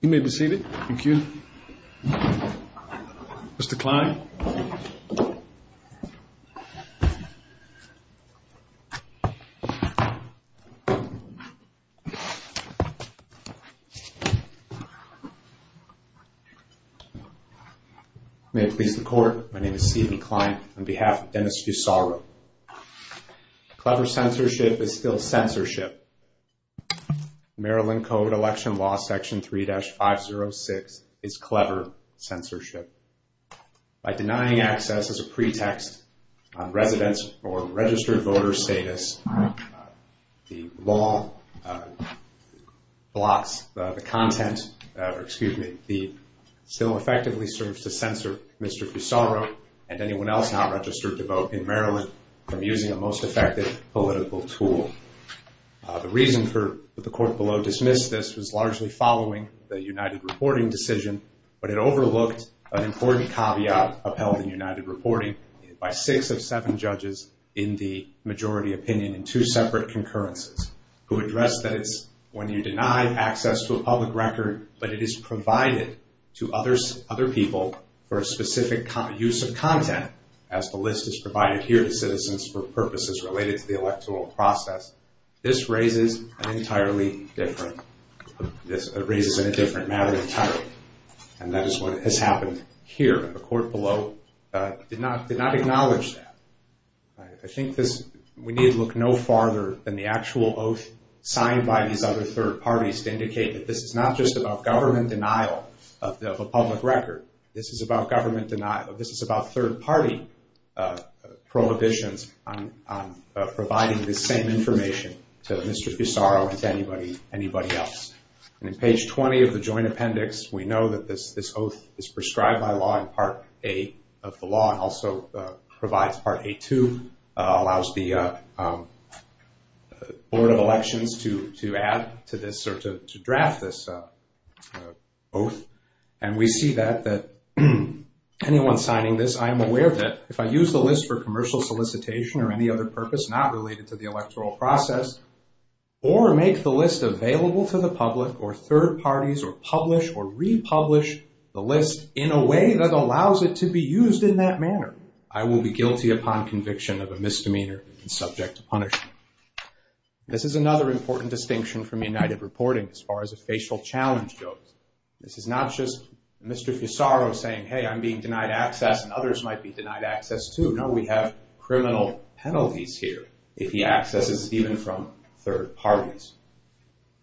You may be seated. Thank you. Mr. Kline. May it please the court, my name is Stephen Kline on behalf of Dennis Fusaro. Clever censorship is still censorship. Maryland Code Election Law Section 3-506 is clever censorship. By denying access as a pretext on residence or registered voter status, the law blocks the content, excuse me, still effectively serves to censor Mr. Fusaro and anyone else not registered to vote in Maryland from using the most effective political tool. The reason for the court below dismissed this was largely following the United Reporting decision, but it overlooked an important caveat upheld in United Reporting by six of seven judges in the majority opinion in two separate concurrences who addressed that it's when you deny access to a public record but it is provided to other people for a specific use of content, as the list is provided here to citizens for purposes related to the electoral process. This raises an entirely different, this raises a different matter entirely. And that is what has happened here. The court below did not acknowledge that. I think this, we need to look no farther than the actual oath signed by these other third parties to indicate that this is not just about government denial of a public record. This is about government denial, this is about third party prohibitions on providing this same information to Mr. Fusaro and to anybody else. And in page 20 of the joint appendix, we know that this oath is prescribed by law in part A of the law and also provides part A2, allows the Board of Elections to add to this or to draft this oath. And we see that anyone signing this, I am aware of it. If I use the list for commercial solicitation or any other purpose not related to the electoral process or make the list available to the public or third parties or publish or republish the list in a way that allows it to be used in that manner, I will be guilty upon conviction of a misdemeanor and subject to punishment. This is another important distinction from United Reporting as far as a facial challenge goes. This is not just Mr. Fusaro saying, hey, I'm being denied access and others might be denied access too. No, we have criminal penalties here if he accesses even from third parties.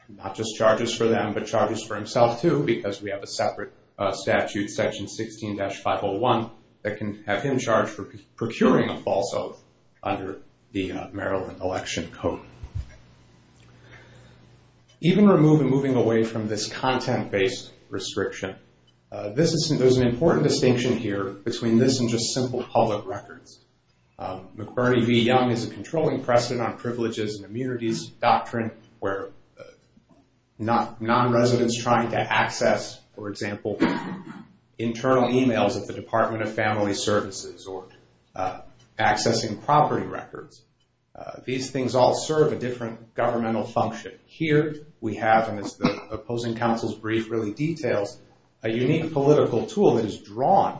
Not just charges for them but charges for himself too because we have a separate statute, section 16-501, that can have him charged for procuring a false oath under the Maryland Election Code. Even removing away from this content-based restriction, there's an important distinction here between this and just simple public records. McBurney v. Young is a controlling precedent on privileges and immunities doctrine where non-residents trying to access, for example, internal emails at the Department of Family Services or accessing property records. These things all serve a different governmental function. Here we have, and it's the opposing counsel's brief really details, a unique political tool that is drawn,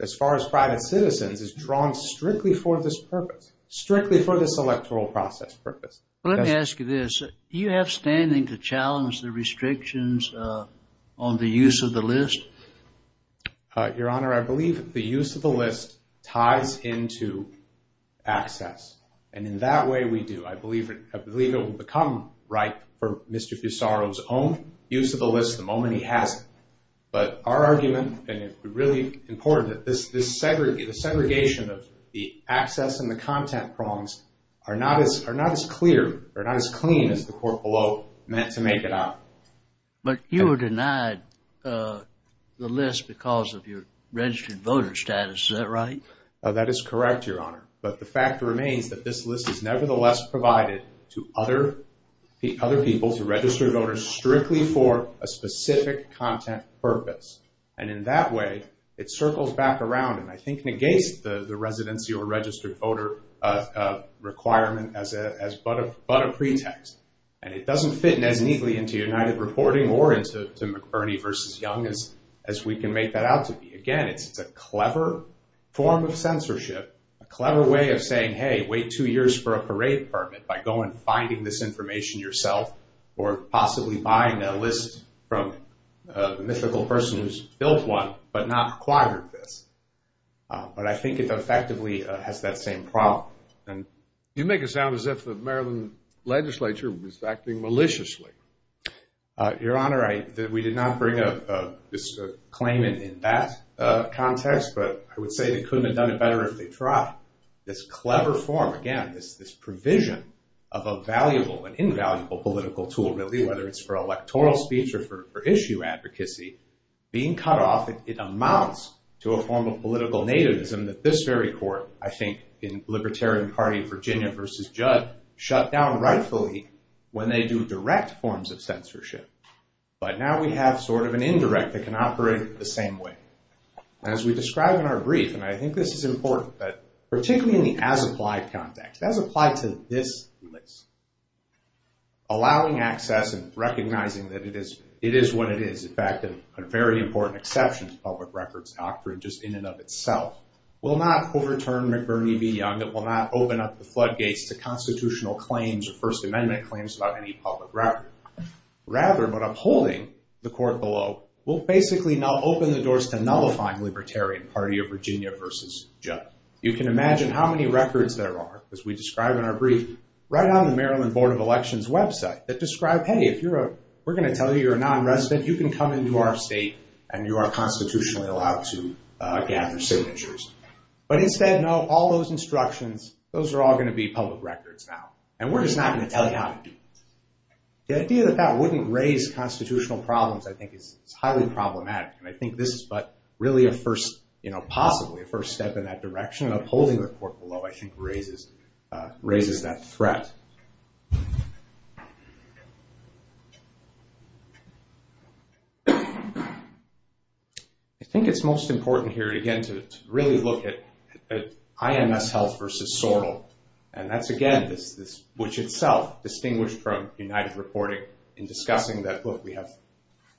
as far as private citizens, is drawn strictly for this purpose, strictly for this electoral process purpose. Let me ask you this. Do you have standing to challenge the restrictions on the use of the list? Your Honor, I believe the use of the list ties into access, and in that way we do. I believe it will become ripe for Mr. Fusaro's own use of the list the moment he has it. But our argument, and it's really important, that this segregation of the access and the content prongs are not as clear or not as clean as the court below meant to make it up. But you were denied the list because of your registered voter status. Is that right? That is correct, Your Honor. But the fact remains that this list is nevertheless provided to other people, to registered voters, strictly for a specific content purpose, and in that way it circles back around and I think negates the residency or registered voter requirement as but a pretext. And it doesn't fit as neatly into United Reporting or into McBurney v. Young as we can make that out to be. Again, it's a clever form of censorship, a clever way of saying, hey, wait two years for a parade permit by going and finding this information yourself or possibly buying a list from a mythical person who's built one but not acquired this. But I think it effectively has that same problem. You make it sound as if the Maryland legislature was acting maliciously. Your Honor, we did not bring a claimant in that context, but I would say they couldn't have done it better if they tried. This clever form, again, this provision of a valuable and invaluable political tool really, whether it's for electoral speech or for issue advocacy, being cut off, it amounts to a form of political nativism that this very court, I think, in Libertarian Party of Virginia v. Judd, shut down rightfully when they do direct forms of censorship. But now we have sort of an indirect that can operate the same way. As we describe in our brief, and I think this is important, that particularly in the as-applied context, as applied to this list, allowing access and recognizing that it is what it is, in fact, a very important exception to public records doctrine just in and of itself, will not overturn McBurney v. Young. It will not open up the floodgates to constitutional claims or First Amendment claims about any public record. Rather, but upholding the court below, will basically open the doors to nullifying Libertarian Party of Virginia v. Judd. You can imagine how many records there are, as we describe in our brief, right on the Maryland Board of Elections website that describe, hey, if we're going to tell you you're a non-resident, you can come into our state and you are constitutionally allowed to gather signatures. But instead, no, all those instructions, those are all going to be public records now. And we're just not going to tell you how to do that. The idea that that wouldn't raise constitutional problems, I think, is highly problematic. And I think this is really a first, possibly a first step in that direction. Upholding the court below, I think, raises that threat. I think it's most important here, again, to really look at IMS Health v. Sorrell. And that's, again, which itself, distinguished from United Reporting, in discussing that, look, we have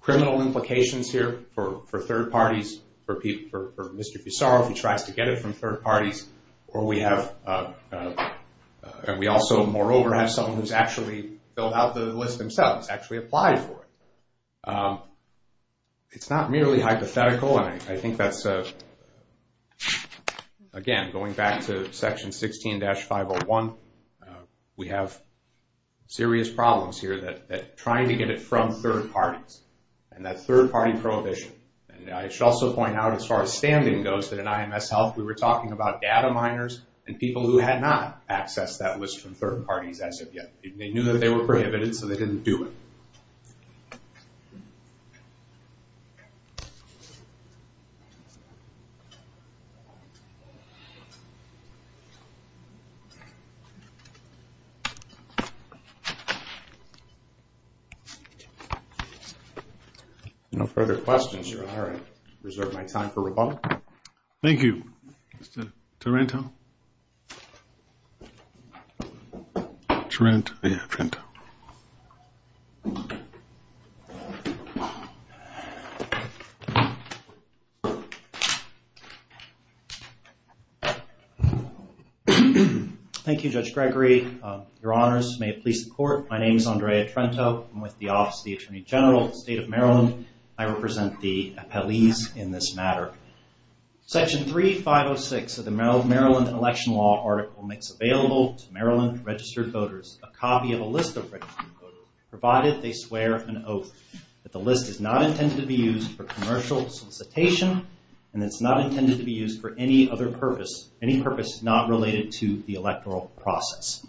criminal implications here for third parties, for Mr. Pissarro who tries to get it from third parties, and we also, moreover, have someone who's actually filled out the list themselves, actually applied for it. It's not merely hypothetical, and I think that's, again, going back to Section 16-501, we have serious problems here that trying to get it from third parties, and that third-party prohibition. And I should also point out, as far as standing goes, that in IMS Health, we were talking about data miners and people who had not accessed that list from third parties as of yet. They knew that they were prohibited, so they didn't do it. No further questions. All right. Reserve my time for rebuttal. Thank you. Mr. Taranto. Taranto? Yeah, Taranto. Thank you, Judge Gregory. Your Honors, may it please the Court, my name is Andrea Taranto. I'm with the Office of the Attorney General of the State of Maryland. I represent the appellees in this matter. Section 3506 of the Maryland Election Law article makes available to Maryland registered voters a copy of a list of registered voters, provided they swear an oath that the list is not intended to be used for commercial solicitation, and it's not intended to be used for any other purpose, any purpose not related to the electoral process.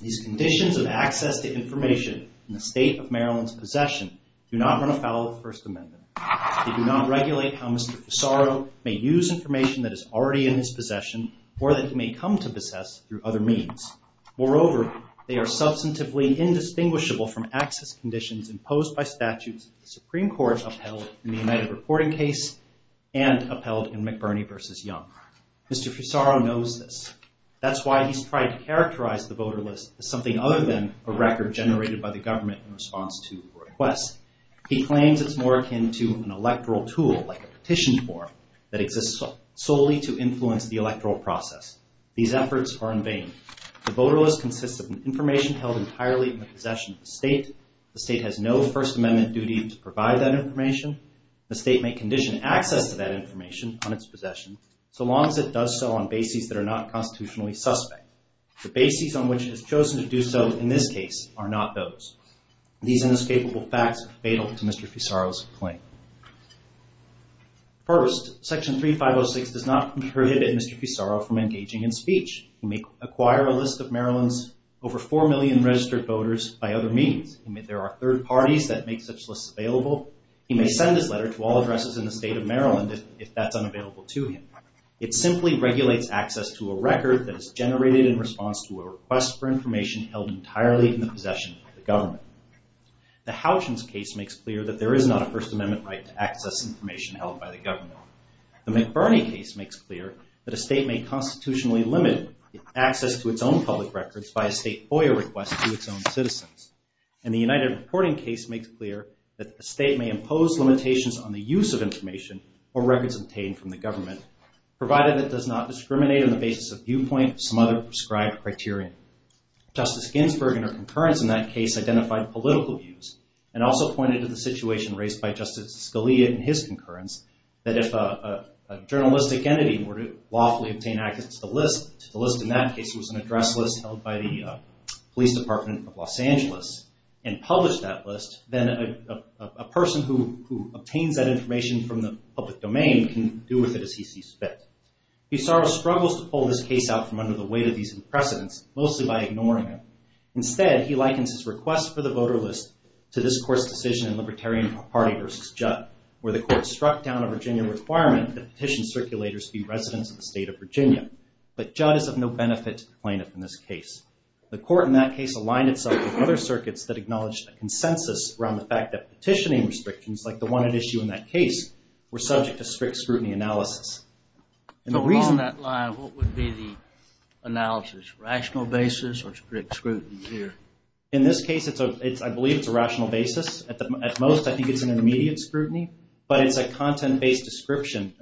These conditions of access to information in the State of Maryland's possession do not run afoul of the First Amendment. They do not regulate how Mr. Fusaro may use information that is already in his possession or that he may come to possess through other means. Moreover, they are substantively indistinguishable from access conditions imposed by statutes of the Supreme Court upheld in the United Reporting case and upheld in McBurney v. Young. Mr. Fusaro knows this. That's why he's tried to characterize the voter list as something other than a record generated by the government in response to a request. He claims it's more akin to an electoral tool like a petition form that exists solely to influence the electoral process. These efforts are in vain. The voter list consists of information held entirely in the possession of the state. The state has no First Amendment duty to provide that information. The state may condition access to that information on its possession so long as it does so on bases that are not constitutionally suspect. The bases on which it has chosen to do so in this case are not those. These inescapable facts are fatal to Mr. Fusaro's claim. First, Section 3506 does not prohibit Mr. Fusaro from engaging in speech. He may acquire a list of Maryland's over 4 million registered voters by other means. There are third parties that make such lists available. He may send his letter to all addresses in the state of Maryland if that's unavailable to him. It simply regulates access to a record that is generated in response to a request for information held entirely in the possession of the government. The Houchins case makes clear that there is not a First Amendment right to access information held by the government. The McBurney case makes clear that a state may constitutionally limit access to its own public records by a state FOIA request to its own citizens. And the United Reporting case makes clear that a state may impose limitations on the use of information or records obtained from the government provided it does not discriminate on the basis of viewpoint or some other prescribed criterion. Justice Ginsburg in her concurrence in that case identified political views and also pointed to the situation raised by Justice Scalia in his concurrence that if a journalistic entity were to lawfully obtain access to the list, the list in that case was an address list held by the Police Department of Los Angeles, and published that list, then a person who obtains that information from the public domain can do with it as he sees fit. Bissarro struggles to pull this case out from under the weight of these precedents, mostly by ignoring them. Instead, he likens his request for the voter list to this court's decision in Libertarian Party v. Judd, where the court struck down a Virginia requirement that petition circulators be residents of the state of Virginia. But Judd is of no benefit to the plaintiff in this case. The court in that case aligned itself with other circuits that acknowledged a consensus around the fact that petitioning restrictions, like the one at issue in that case, were subject to strict scrutiny analysis. The reason that line, what would be the analysis? Rational basis or strict scrutiny here? In this case, I believe it's a rational basis. At most, I think it's an immediate scrutiny, but it's a content-based discrimination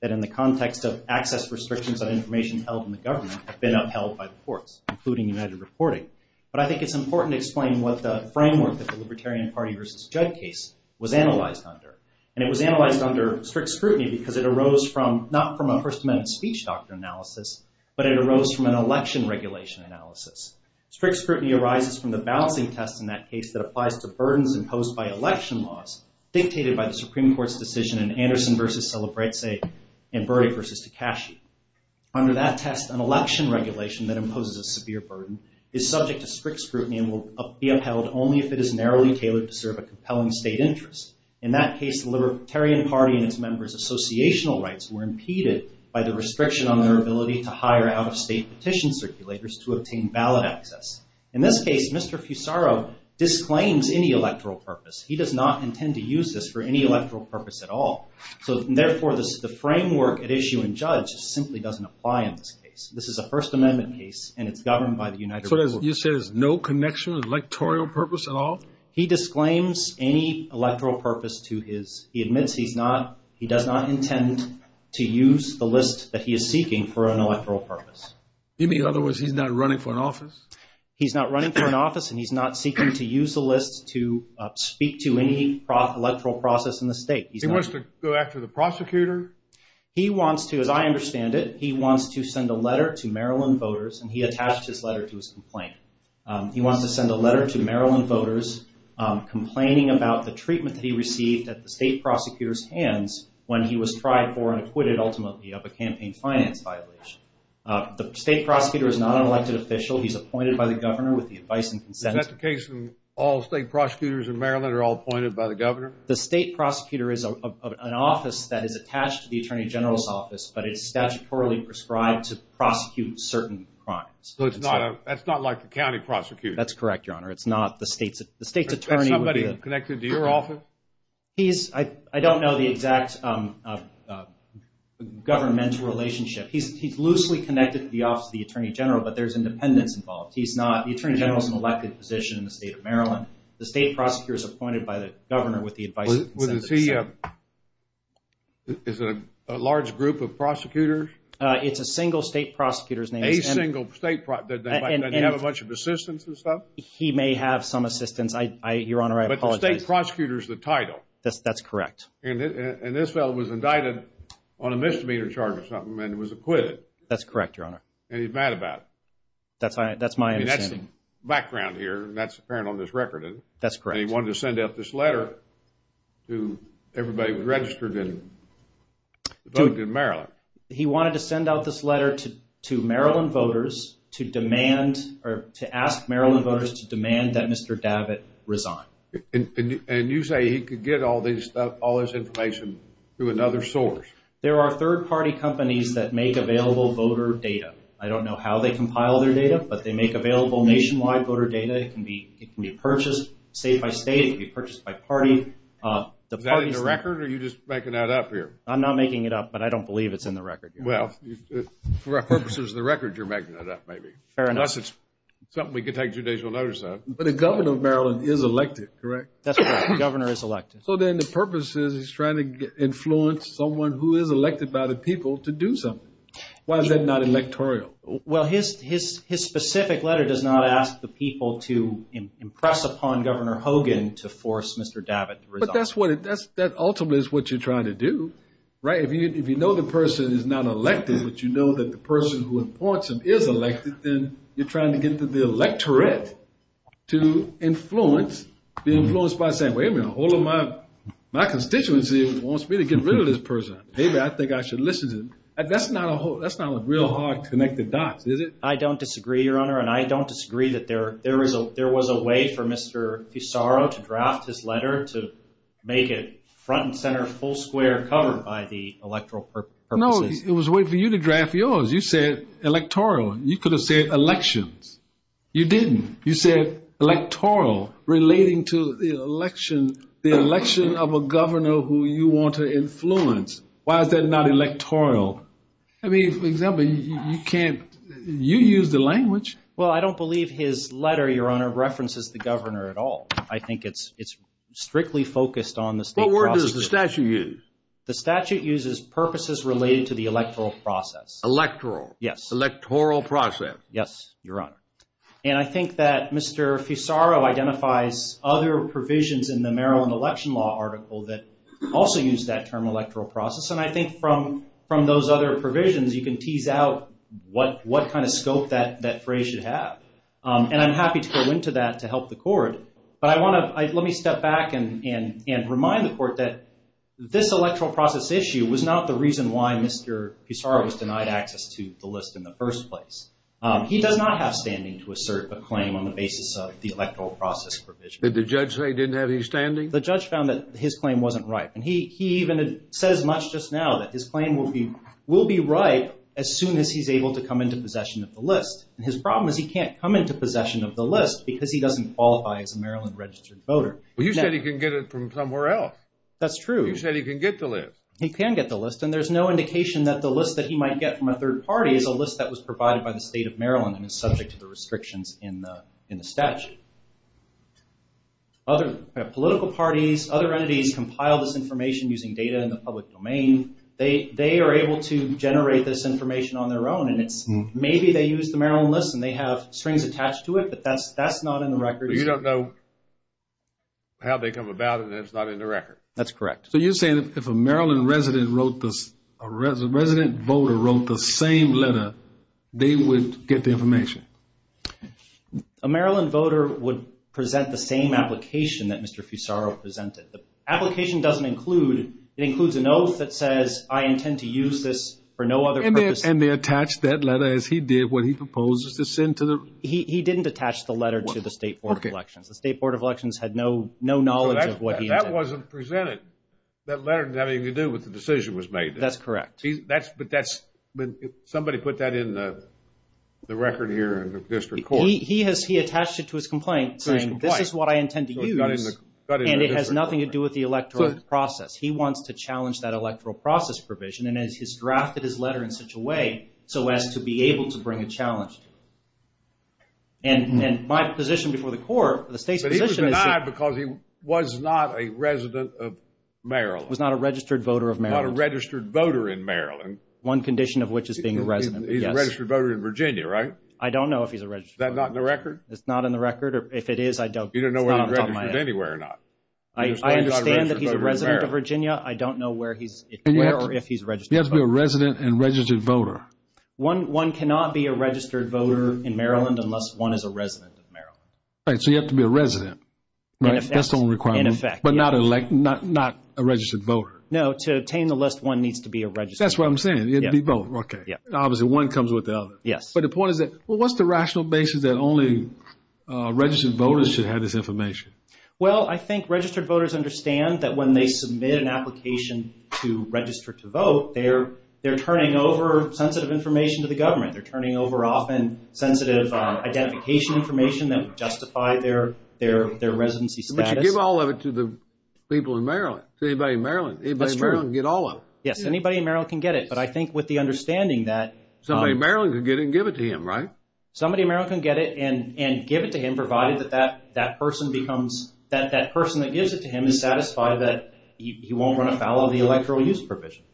that in the context of access restrictions on information held in the government have been upheld by the courts, including United Reporting. But I think it's important to explain what the framework that the Libertarian Party v. Judd case was analyzed under. And it was analyzed under strict scrutiny because it arose from, not from a First Amendment speech doctrine analysis, but it arose from an election regulation analysis. Strict scrutiny arises from the balancing test in that case that applies to burdens imposed by election laws dictated by the Supreme Court's decision in Anderson v. Celebrezze and Burdi v. Takashi. Under that test, an election regulation that imposes a severe burden is subject to strict scrutiny and will be upheld only if it is narrowly tailored to serve a compelling state interest. In that case, the Libertarian Party and its members' associational rights were impeded by the restriction on their ability to hire out-of-state petition circulators to obtain ballot access. In this case, Mr. Fusaro disclaims any electoral purpose. He does not intend to use this for any electoral purpose at all. Therefore, the framework at issue in Judd simply doesn't apply in this case. This is a First Amendment case, and it's governed by the United States. So you say there's no connection to electoral purpose at all? He disclaims any electoral purpose to his. He admits he does not intend to use the list that he is seeking for an electoral purpose. You mean, in other words, he's not running for an office? He's not running for an office, and he's not seeking to use the list to speak to any electoral process in the state. He wants to go after the prosecutor? He wants to, as I understand it, he wants to send a letter to Maryland voters, and he attached his letter to his complaint. He wants to send a letter to Maryland voters complaining about the treatment that he received at the state prosecutor's hands when he was tried for and acquitted, ultimately, of a campaign finance violation. The state prosecutor is not an elected official. He's appointed by the governor with the advice and consent. Is that the case when all state prosecutors in Maryland are all appointed by the governor? The state prosecutor is an office that is attached to the attorney general's office, but it's statutorily prescribed to prosecute certain crimes. So it's not like the county prosecutor? That's correct, Your Honor. It's not the state's attorney. Is that somebody connected to your office? I don't know the exact governmental relationship. He's loosely connected to the office of the attorney general, but there's independence involved. The attorney general is an elected position in the state of Maryland. The state prosecutor is appointed by the governor with the advice and consent. Is he a large group of prosecutors? It's a single state prosecutor's name. A single state prosecutor. Does he have a bunch of assistants and stuff? He may have some assistance. Your Honor, I apologize. But the state prosecutor is the title. That's correct. And this fellow was indicted on a misdemeanor charge or something and was acquitted. That's correct, Your Honor. And he's mad about it. That's my understanding. He's got some background here, and that's apparent on this record, isn't it? That's correct. And he wanted to send out this letter to everybody who registered in Maryland. He wanted to send out this letter to Maryland voters to demand or to ask Maryland voters to demand that Mr. Davitt resign. And you say he could get all this information through another source? There are third-party companies that make available voter data. I don't know how they compile their data, but they make available nationwide voter data. It can be purchased state by state. It can be purchased by party. Is that in the record, or are you just making that up here? I'm not making it up, but I don't believe it's in the record. Well, for our purposes of the record, you're making that up, maybe. Fair enough. Unless it's something we could take judicial notice of. But the governor of Maryland is elected, correct? That's right. The governor is elected. So then the purpose is he's trying to influence someone who is elected by the people to do something. Why is that not electoral? Well, his specific letter does not ask the people to impress upon Governor Hogan to force Mr. Davitt to resign. But that ultimately is what you're trying to do, right? If you know the person is not elected, but you know that the person who appoints him is elected, then you're trying to get the electorate to be influenced by saying, wait a minute, a whole of my constituency wants me to get rid of this person. David, I think I should listen to you. That's not a real hard connected dot, is it? I don't disagree, Your Honor. And I don't disagree that there was a way for Mr. Pissarro to draft his letter to make it front and center, full square, covered by the electoral purposes. No, it was a way for you to draft yours. You said electoral. You could have said elections. You didn't. You said electoral, relating to the election of a governor who you want to influence. Why is that not electoral? I mean, for example, you use the language. Well, I don't believe his letter, Your Honor, references the governor at all. I think it's strictly focused on the state process. What word does the statute use? The statute uses purposes related to the electoral process. Electoral. Yes. Electoral process. Yes, Your Honor. And I think that Mr. Pissarro identifies other provisions in the Maryland Election Law article that also use that term, electoral process. And I think from those other provisions, you can tease out what kind of scope that phrase should have. And I'm happy to go into that to help the court. But I want to let me step back and remind the court that this electoral process issue was not the reason why Mr. Pissarro was denied access to the list in the first place. He does not have standing to assert a claim on the basis of the electoral process provision. Did the judge say he didn't have any standing? The judge found that his claim wasn't ripe. And he even says much just now that his claim will be ripe as soon as he's able to come into possession of the list. And his problem is he can't come into possession of the list because he doesn't qualify as a Maryland registered voter. You said he can get it from somewhere else. That's true. You said he can get the list. He can get the list. And there's no indication that the list that he might get from a third party is a list that was provided by the state of Maryland and is subject to the restrictions in the statute. Other political parties, other entities compile this information using data in the public domain. They are able to generate this information on their own. And maybe they use the Maryland list and they have strings attached to it, but that's not in the record. But you don't know how they come about and it's not in the record. That's correct. So you're saying if a Maryland resident wrote this, a resident voter wrote the same letter, they would get the information? A Maryland voter would present the same application that Mr. Fusaro presented. The application doesn't include, it includes an oath that says I intend to use this for no other purpose. And they attached that letter as he did what he proposed to send to the. He didn't attach the letter to the State Board of Elections. The State Board of Elections had no knowledge of what he intended. But that wasn't presented, that letter having to do with the decision was made. That's correct. But that's, somebody put that in the record here in the district court. He has, he attached it to his complaint saying this is what I intend to use. And it has nothing to do with the electoral process. He wants to challenge that electoral process provision and has drafted his letter in such a way so as to be able to bring a challenge. And my position before the court, the state's position is. But he was denied because he was not a resident of Maryland. Was not a registered voter of Maryland. Not a registered voter in Maryland. One condition of which is being a resident, yes. He's a registered voter in Virginia, right? I don't know if he's a registered voter. Is that not in the record? It's not in the record. If it is, I don't. You don't know if he's registered anywhere or not. I understand that he's a resident of Virginia. I don't know where he's, where or if he's a registered voter. He has to be a resident and registered voter. One cannot be a registered voter in Maryland unless one is a resident of Maryland. Right. So you have to be a resident. In effect. That's the only requirement. In effect. But not a registered voter. No. To obtain the list, one needs to be a registered voter. That's what I'm saying. It would be both. Okay. Obviously, one comes with the other. Yes. But the point is that, well, what's the rational basis that only registered voters should have this information? Well, I think registered voters understand that when they submit an application to register to vote, they're turning over sensitive information to the government. They're turning over often sensitive identification information that would justify their residency status. But you give all of it to the people in Maryland. To anybody in Maryland. That's true. Anybody in Maryland can get all of it. Yes. Anybody in Maryland can get it. But I think with the understanding that Somebody in Maryland can get it and give it to him, right? Somebody in Maryland can get it and give it to him provided that that person becomes, that he won't run afoul of the electoral use provision.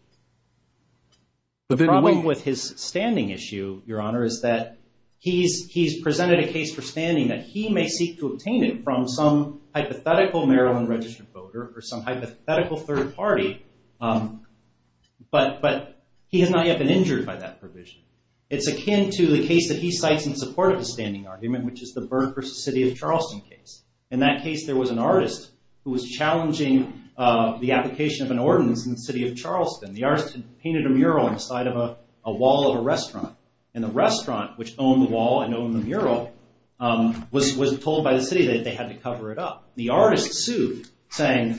The problem with his standing issue, Your Honor, is that he's presented a case for standing that he may seek to obtain it from some hypothetical Maryland registered voter or some hypothetical third party. But he has not yet been injured by that provision. It's akin to the case that he cites in support of the standing argument, which is the Byrne v. City of Charleston case. In that case, there was an artist who was challenging the application of an ordinance in the city of Charleston. The artist painted a mural inside of a wall of a restaurant. And the restaurant, which owned the wall and owned the mural, was told by the city that they had to cover it up. The artist sued, saying,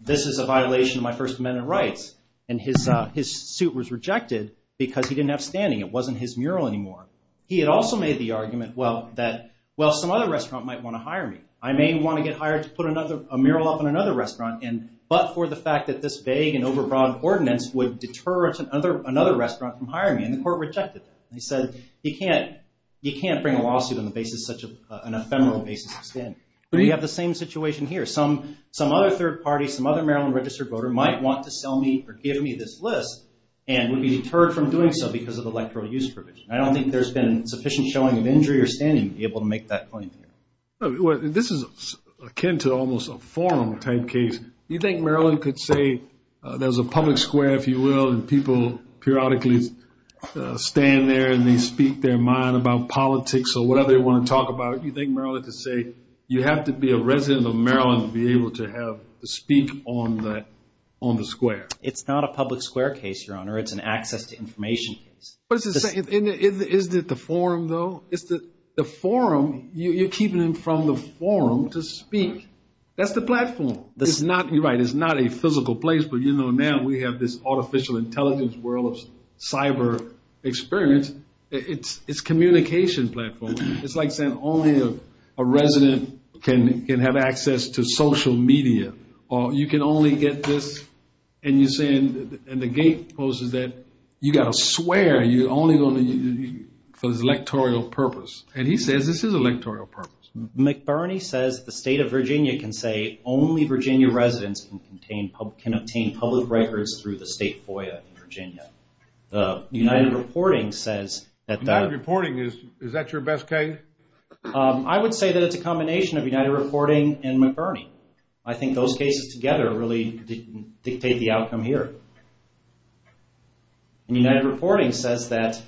this is a violation of my First Amendment rights. And his suit was rejected because he didn't have standing. It wasn't his mural anymore. He had also made the argument that, well, some other restaurant might want to hire me. I may want to get hired to put a mural up in another restaurant, but for the fact that this vague and overbroad ordinance would deter another restaurant from hiring me. And the court rejected that. They said, you can't bring a lawsuit on the basis of such an ephemeral basis of standing. But you have the same situation here. Some other third party, some other Maryland registered voter might want to sell me or give me this list and would be deterred from doing so because of the electoral use provision. I don't think there's been sufficient showing of injury or standing to be able to make that point. This is akin to almost a forum type case. Do you think Maryland could say there's a public square, if you will, and people periodically stand there and they speak their mind about politics or whatever they want to talk about? Do you think Maryland could say you have to be a resident of Maryland to be able to speak on the square? It's not a public square case, Your Honor. It's an access to information case. Isn't it the forum, though? The forum, you're keeping them from the forum to speak. That's the platform. You're right. It's not a physical place, but you know now we have this artificial intelligence world of cyber experience. It's communication platform. It's like saying only a resident can have access to social media. Or you can only get this, and you're saying, and the gate closes there, you got to swear you're only going to use it for this electoral purpose. And he says this is an electoral purpose. McBurney says the state of Virginia can say only Virginia residents can obtain public records through the state FOIA in Virginia. United Reporting says that that- United Reporting, is that your best case? I would say that it's a combination of United Reporting and McBurney. I think those cases together really dictate the outcome here. And United Reporting says that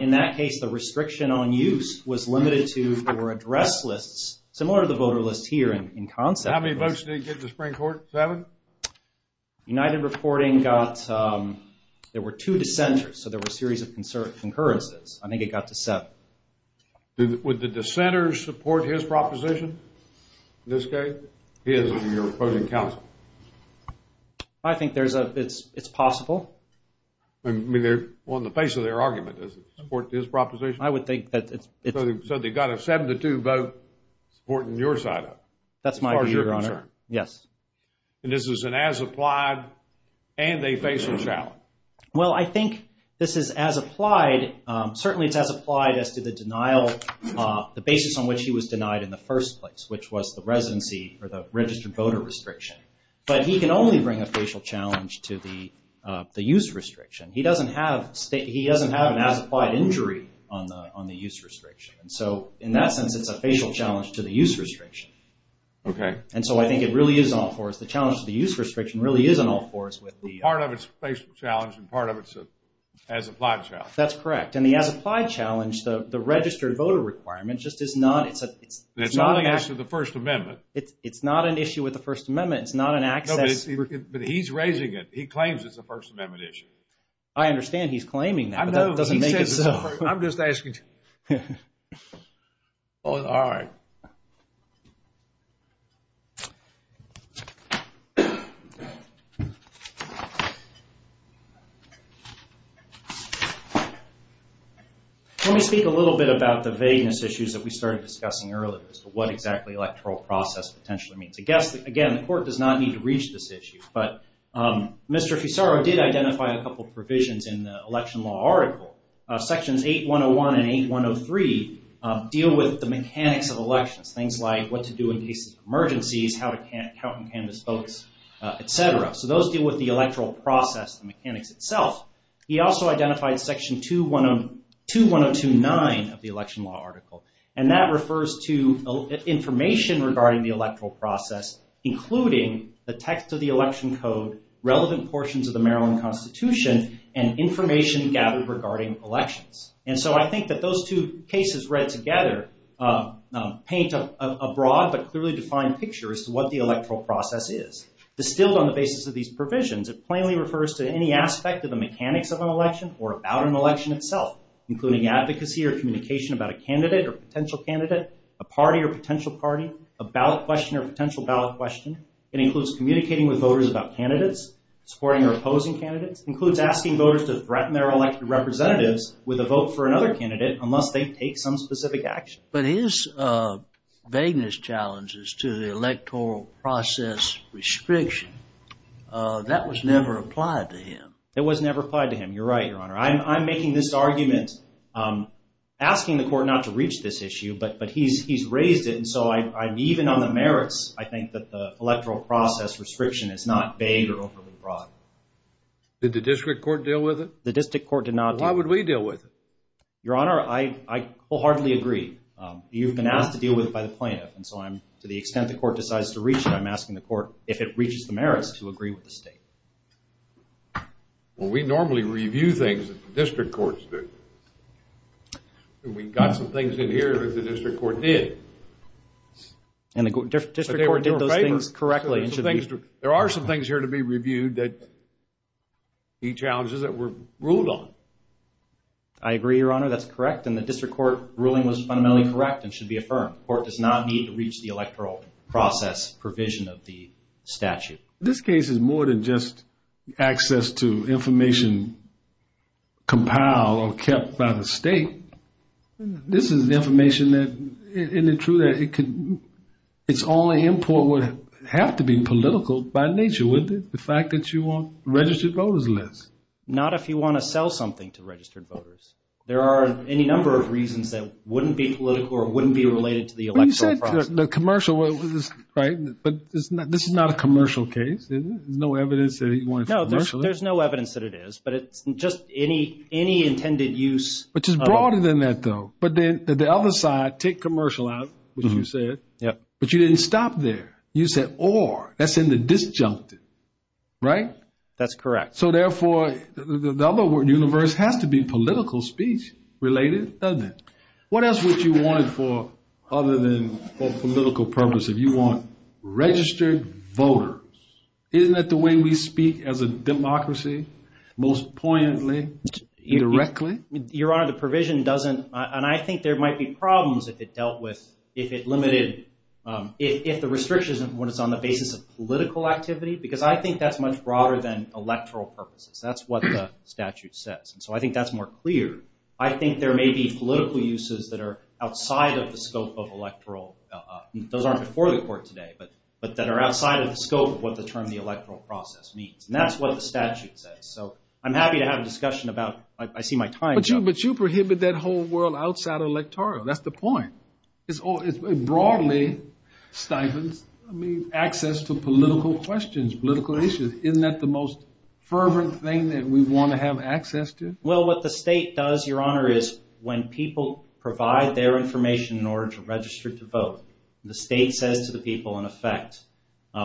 in that case, the restriction on use was limited to, there were address lists, similar to the voter list here in concept. How many votes did it get in the Supreme Court? Seven? United Reporting got, there were two dissenters, so there were a series of concurrences. I think it got to seven. Would the dissenters support his proposition? In this case, his and your opposing counsel? I think there's a, it's possible. I mean, on the face of their argument, does it support his proposition? I would think that it's- So they got a 72 vote supporting your side of it? That's my view, Your Honor. As far as you're concerned? Yes. And this is an as-applied, and they face a challenge? Well, I think this is as applied, certainly it's as applied as to the denial, the basis on which he was denied in the first place, which was the residency, or the registered voter restriction. But he can only bring a facial challenge to the use restriction. He doesn't have, he doesn't have an as-applied injury on the use restriction. And so, in that sense, it's a facial challenge to the use restriction. Okay. And so I think it really is an all for us. The challenge to the use restriction really is an all for us with the- It's an as-applied challenge, and part of it's an as-applied challenge. That's correct. And the as-applied challenge, the registered voter requirement, just is not, it's a- It's only as to the First Amendment. It's not an issue with the First Amendment. It's not an access- But he's raising it. He claims it's a First Amendment issue. I understand he's claiming that, but that doesn't make it so. I'm just asking. All right. Let me speak a little bit about the vagueness issues that we started discussing earlier, as to what exactly electoral process potentially means. I guess, again, the court does not need to reach this issue, but Mr. Fisaro did identify a couple provisions in the election law article. Sections 8-101 and 8-103 deal with the mechanics of elections, things like what to do in cases of emergencies, how to count and canvass votes, etc. Those deal with the electoral process, the mechanics itself. He also identified Section 2102-9 of the election law article, and that refers to information regarding the electoral process, including the text of the election code, relevant portions of the Maryland Constitution, and information gathered regarding elections. I think that those two cases read together paint a broad but clearly defined picture as to what the electoral process is. Distilled on the basis of these provisions, it plainly refers to any aspect of the mechanics of an election or about an election itself, including advocacy or communication about a candidate or potential candidate, a party or potential party, a ballot question or potential ballot question. It includes communicating with voters about candidates, supporting or opposing candidates. It includes asking voters to threaten their elected representatives with a vote for another candidate unless they take some specific action. But his vagueness challenges to the electoral process restriction, that was never applied to him. It was never applied to him. You're right, Your Honor. I'm making this argument asking the court not to reach this issue, but he's raised it, and so I'm even on the merits, I think, that the electoral process restriction is not vague or overly broad. Did the district court deal with it? The district court did not deal with it. Why would we deal with it? Your Honor, I wholeheartedly agree. You've been asked to deal with it by the plaintiff, and so I'm, to the extent the court decides to reach it, I'm asking the court if it reaches the merits to agree with the state. Well, we normally review things that the district courts do. We got some things in here that the district court did. And the district court did those things correctly. There are some things here to be reviewed that he challenges that were ruled on. I agree, Your Honor. That's correct, and the district court ruling was fundamentally correct and should be affirmed. The court does not need to reach the electoral process provision of the statute. This case is more than just access to information compiled or kept by the state. This is information that, isn't it true, that it's only import would have to be political by nature, wouldn't it, the fact that you want registered voters list? Not if you want to sell something to registered voters. There are any number of reasons that wouldn't be political or wouldn't be related to the electoral process. But you said the commercial, right, but this is not a commercial case. There's no evidence that he wanted it commercially. No, there's no evidence that it is, but it's just any intended use. Which is broader than that, though. But then the other side, take commercial out, which you said, but you didn't stop there. You said or, that's in the disjuncted, right? That's correct. So, therefore, the other universe has to be political speech related, doesn't it? What else would you want for other than for political purpose? If you want registered voters, isn't that the way we speak as a democracy, most poignantly, directly? Your Honor, the provision doesn't, and I think there might be problems if it dealt with, if it limited, if the restriction is on the basis of political activity, because I think that's much broader than electoral purposes. That's what the statute says. So I think that's more clear. I think there may be political uses that are outside of the scope of electoral, those aren't before the court today, but that are outside of the scope of what the term the electoral process means. And that's what the statute says. So I'm happy to have a discussion about, I see my time. But you prohibit that whole world outside of electoral. That's the point. It broadly stipends access to political questions, political issues. Isn't that the most fervent thing that we want to have access to? Well, what the state does, Your Honor, is when people provide their information in order to register to vote, the state says to the people, in effect,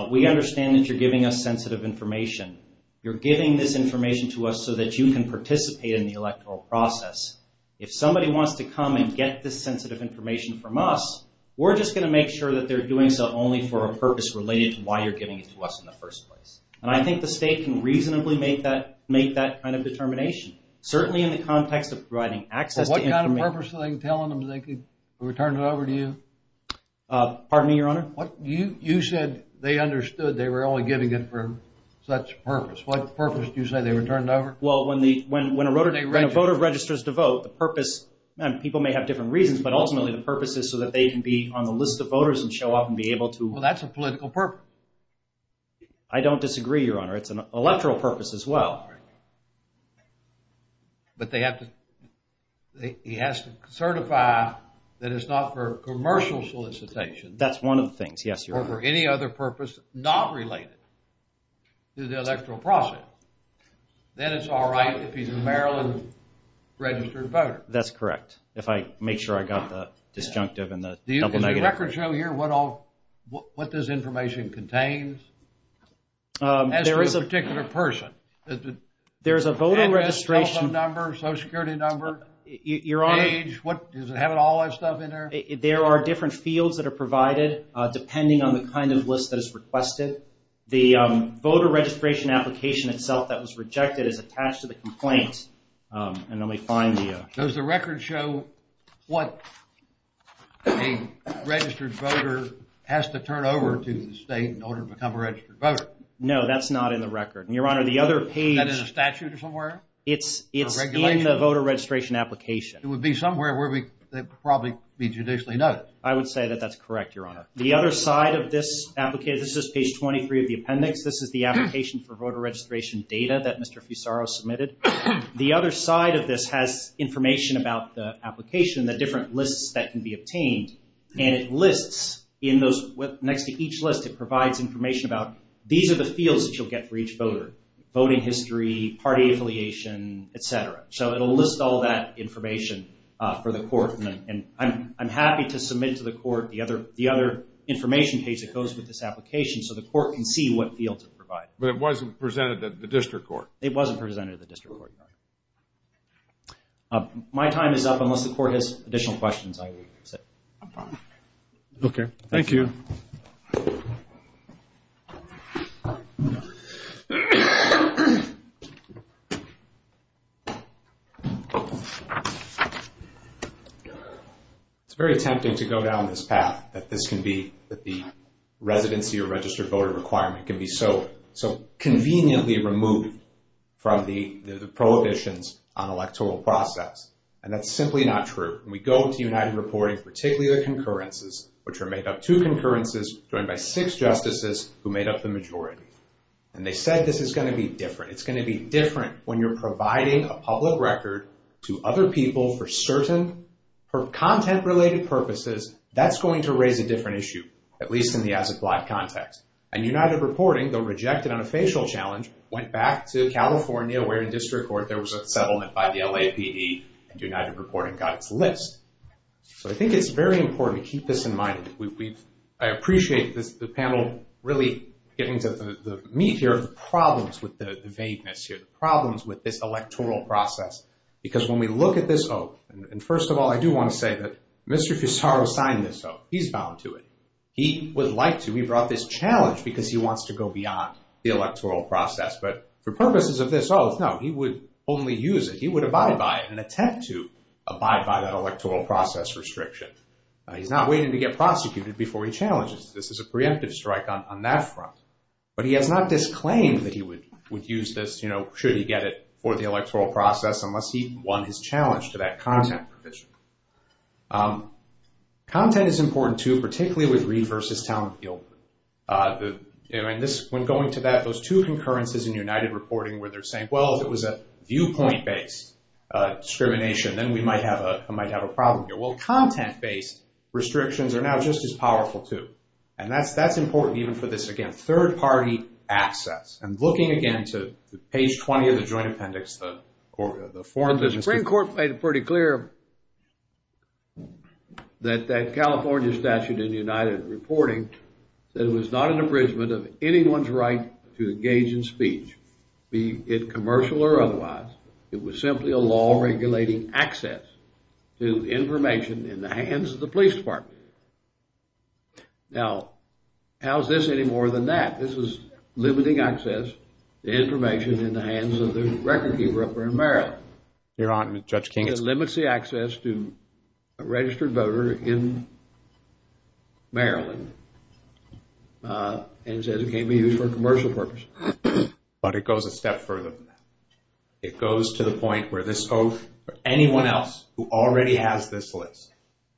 we understand that you're giving us sensitive information. You're giving this information to us so that you can participate in the electoral process. If somebody wants to come and get this sensitive information from us, we're just going to make sure that they're doing so only for a purpose related to why you're giving it to us in the first place. And I think the state can reasonably make that kind of determination, certainly in the context of providing access to information. What kind of purpose are they telling them that they could return it over to you? Pardon me, Your Honor? You said they understood they were only giving it for such purpose. What purpose do you say they returned over? Well, when a voter registers to vote, the purpose, and people may have different reasons, but ultimately the purpose is so that they can be on the list of voters and show up and be able to... Well, that's a political purpose. I don't disagree, Your Honor. It's an electoral purpose as well. But they have to... He has to certify that it's not for commercial solicitation. That's one of the things, yes, Your Honor. Or for any other purpose not related to the electoral process. Then it's all right if he's a Maryland registered voter. That's correct. If I make sure I got the disjunctive and the double negative. Does the record show here what all... what this information contains? As for a particular person. There's a voter registration... Social Security number, age, does it have all that stuff in there? There are different fields that are provided depending on the kind of list that is requested. The voter registration application itself that was rejected is attached to the complaint. And then we find the... Does the record show what a registered voter has to turn over to the state in order to become a registered voter? No, that's not in the record. Your Honor, the other page... Is that in a statute or somewhere? It's in the voter registration application. It would be somewhere where it would probably be judicially noted. I would say that that's correct, Your Honor. The other side of this application... This is page 23 of the appendix. This is the application for voter registration data that Mr. Fusaro submitted. The other side of this has information about the application, the different lists that can be obtained. And it lists in those... Next to each list it provides information about these are the fields that you'll get for each voter. Voting history, party affiliation, etc. So it'll list all that information for the court. And I'm happy to submit to the court the other information page that goes with this application so the court can see what fields it provides. But it wasn't presented to the district court? It wasn't presented to the district court, Your Honor. My time is up. Unless the court has additional questions, I will sit. Okay. Thank you. It's very tempting to go down this path that the residency or registered voter requirement can be so conveniently removed from the prohibitions on electoral process. And that's simply not true. We go to United Reporting, particularly the concurrences, which are made up of two concurrences joined by six justices who made up the majority. And they said this is going to be different. It's going to be different when you're providing a public record to other people for certain content-related purposes. That's going to raise a different issue, at least in the as-applied context. And United Reporting, though rejected on a facial challenge, went back to California where in district court there was a settlement by the LAPD, and United Reporting got its list. So I think it's very important to keep this in mind. I appreciate the panel really getting to the meat here of the problems with the vagueness here, the problems with this electoral process. Because when we look at this oath, and first of all, I do want to say that Mr. Pissarro signed this oath. He's bound to it. He would like to. He brought this challenge because he wants to go beyond the electoral process. But for purposes of this oath, no, he would only use it. He would abide by it and attempt to abide by that electoral process restriction. He's not waiting to get prosecuted before he challenges. This is a preemptive strike on that front. But he has not disclaimed that he would use this, should he get it, for the electoral process unless he won his challenge to that content provision. Content is important, too, particularly with Reed v. Townfield. When going to that, those two concurrences in United Reporting where they're saying, well, if it was a viewpoint-based discrimination, then we might have a problem here. Well, content-based restrictions are now just as powerful, too. And that's important even for this, again, third-party access. And looking again to page 20 of the Joint Appendix, the foreign business... The Supreme Court made it pretty clear that that California statute in United Reporting said it was not an abridgment of anyone's right to engage in speech, be it commercial or otherwise. It was simply a law regulating access to information in the hands of the police department. Now, how is this any more than that? This is limiting access to information in the hands of the record-keeper up there in Maryland. It limits the access to a registered voter in Maryland. And it says it can't be used for commercial purposes. But it goes a step further than that. It goes to the point where this oath, for anyone else who already has this list,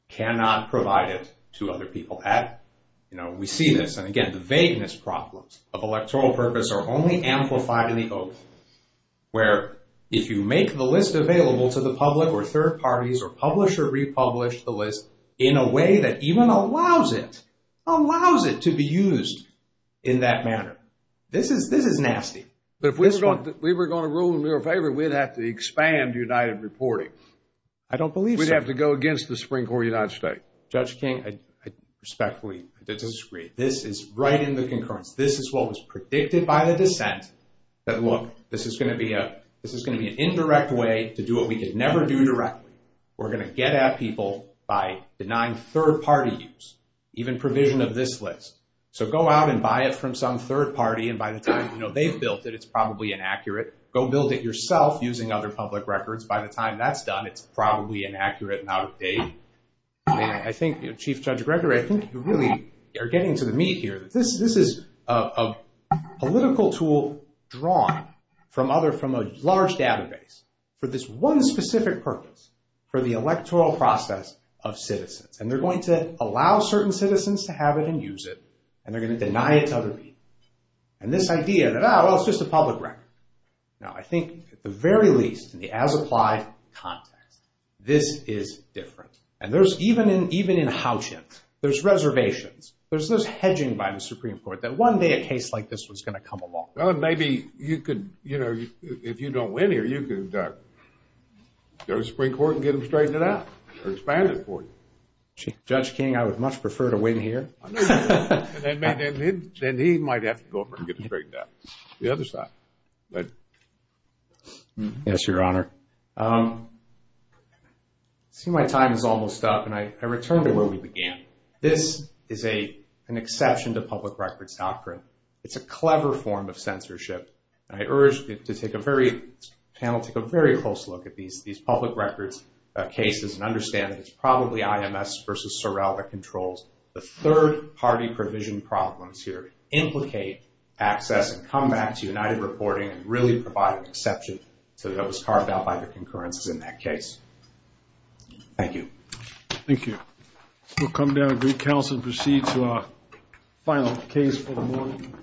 cannot provide it to other people at it. You know, we see this. And again, the vagueness problems of electoral purpose are only amplified in the oath, where if you make the list available to the public or third parties or publish or republish the list in a way that even allows it, allows it to be used in that manner, this is nasty. But if we were going to rule in their favor, we'd have to expand United Reporting. I don't believe so. We'd have to go against the Supreme Court of the United States. Judge King, I respectfully disagree. This is right in the concurrence. This is what was predicted by the dissent that, look, this is going to be an indirect way to do what we could never do directly. We're going to get at people by denying third-party use, even provision of this list. So go out and buy it from some third party, and by the time they've built it, it's probably inaccurate. Go build it yourself using other public records. By the time that's done, it's probably inaccurate and out of date. I think, Chief Judge Gregory, I think you really are getting to the meat here. This is a political tool drawn from a large database for this one specific purpose, for the electoral process of citizens. And they're going to allow certain citizens to have it and use it, and they're going to deny it to other people. And this idea that, ah, well, it's just a public record. Now, I think, at the very least, in the as-applied context, this is different. And there's, even in Houchen, there's reservations. There's this hedging by the Supreme Court that one day a case like this was going to come along. Well, maybe you could, you know, if you don't win here, you could go to the Supreme Court and get them to straighten it out or expand it for you. Judge King, I would much prefer to win here. Then he might have to go up and get it straightened out. The other side. Go ahead. Yes, Your Honor. I see my time is almost up, and I return to where we began. This is an exception to public records doctrine. It's a clever form of censorship. I urge the panel to take a very close look at these public records cases and understand that it's probably IMS versus Sorrell that controls the third-party provision problems here, implicate access and come back to United Reporting and really provide an exception so that it was carved out by the concurrences in that case. Thank you. Thank you. We'll come down to the council and proceed to our final case for the morning.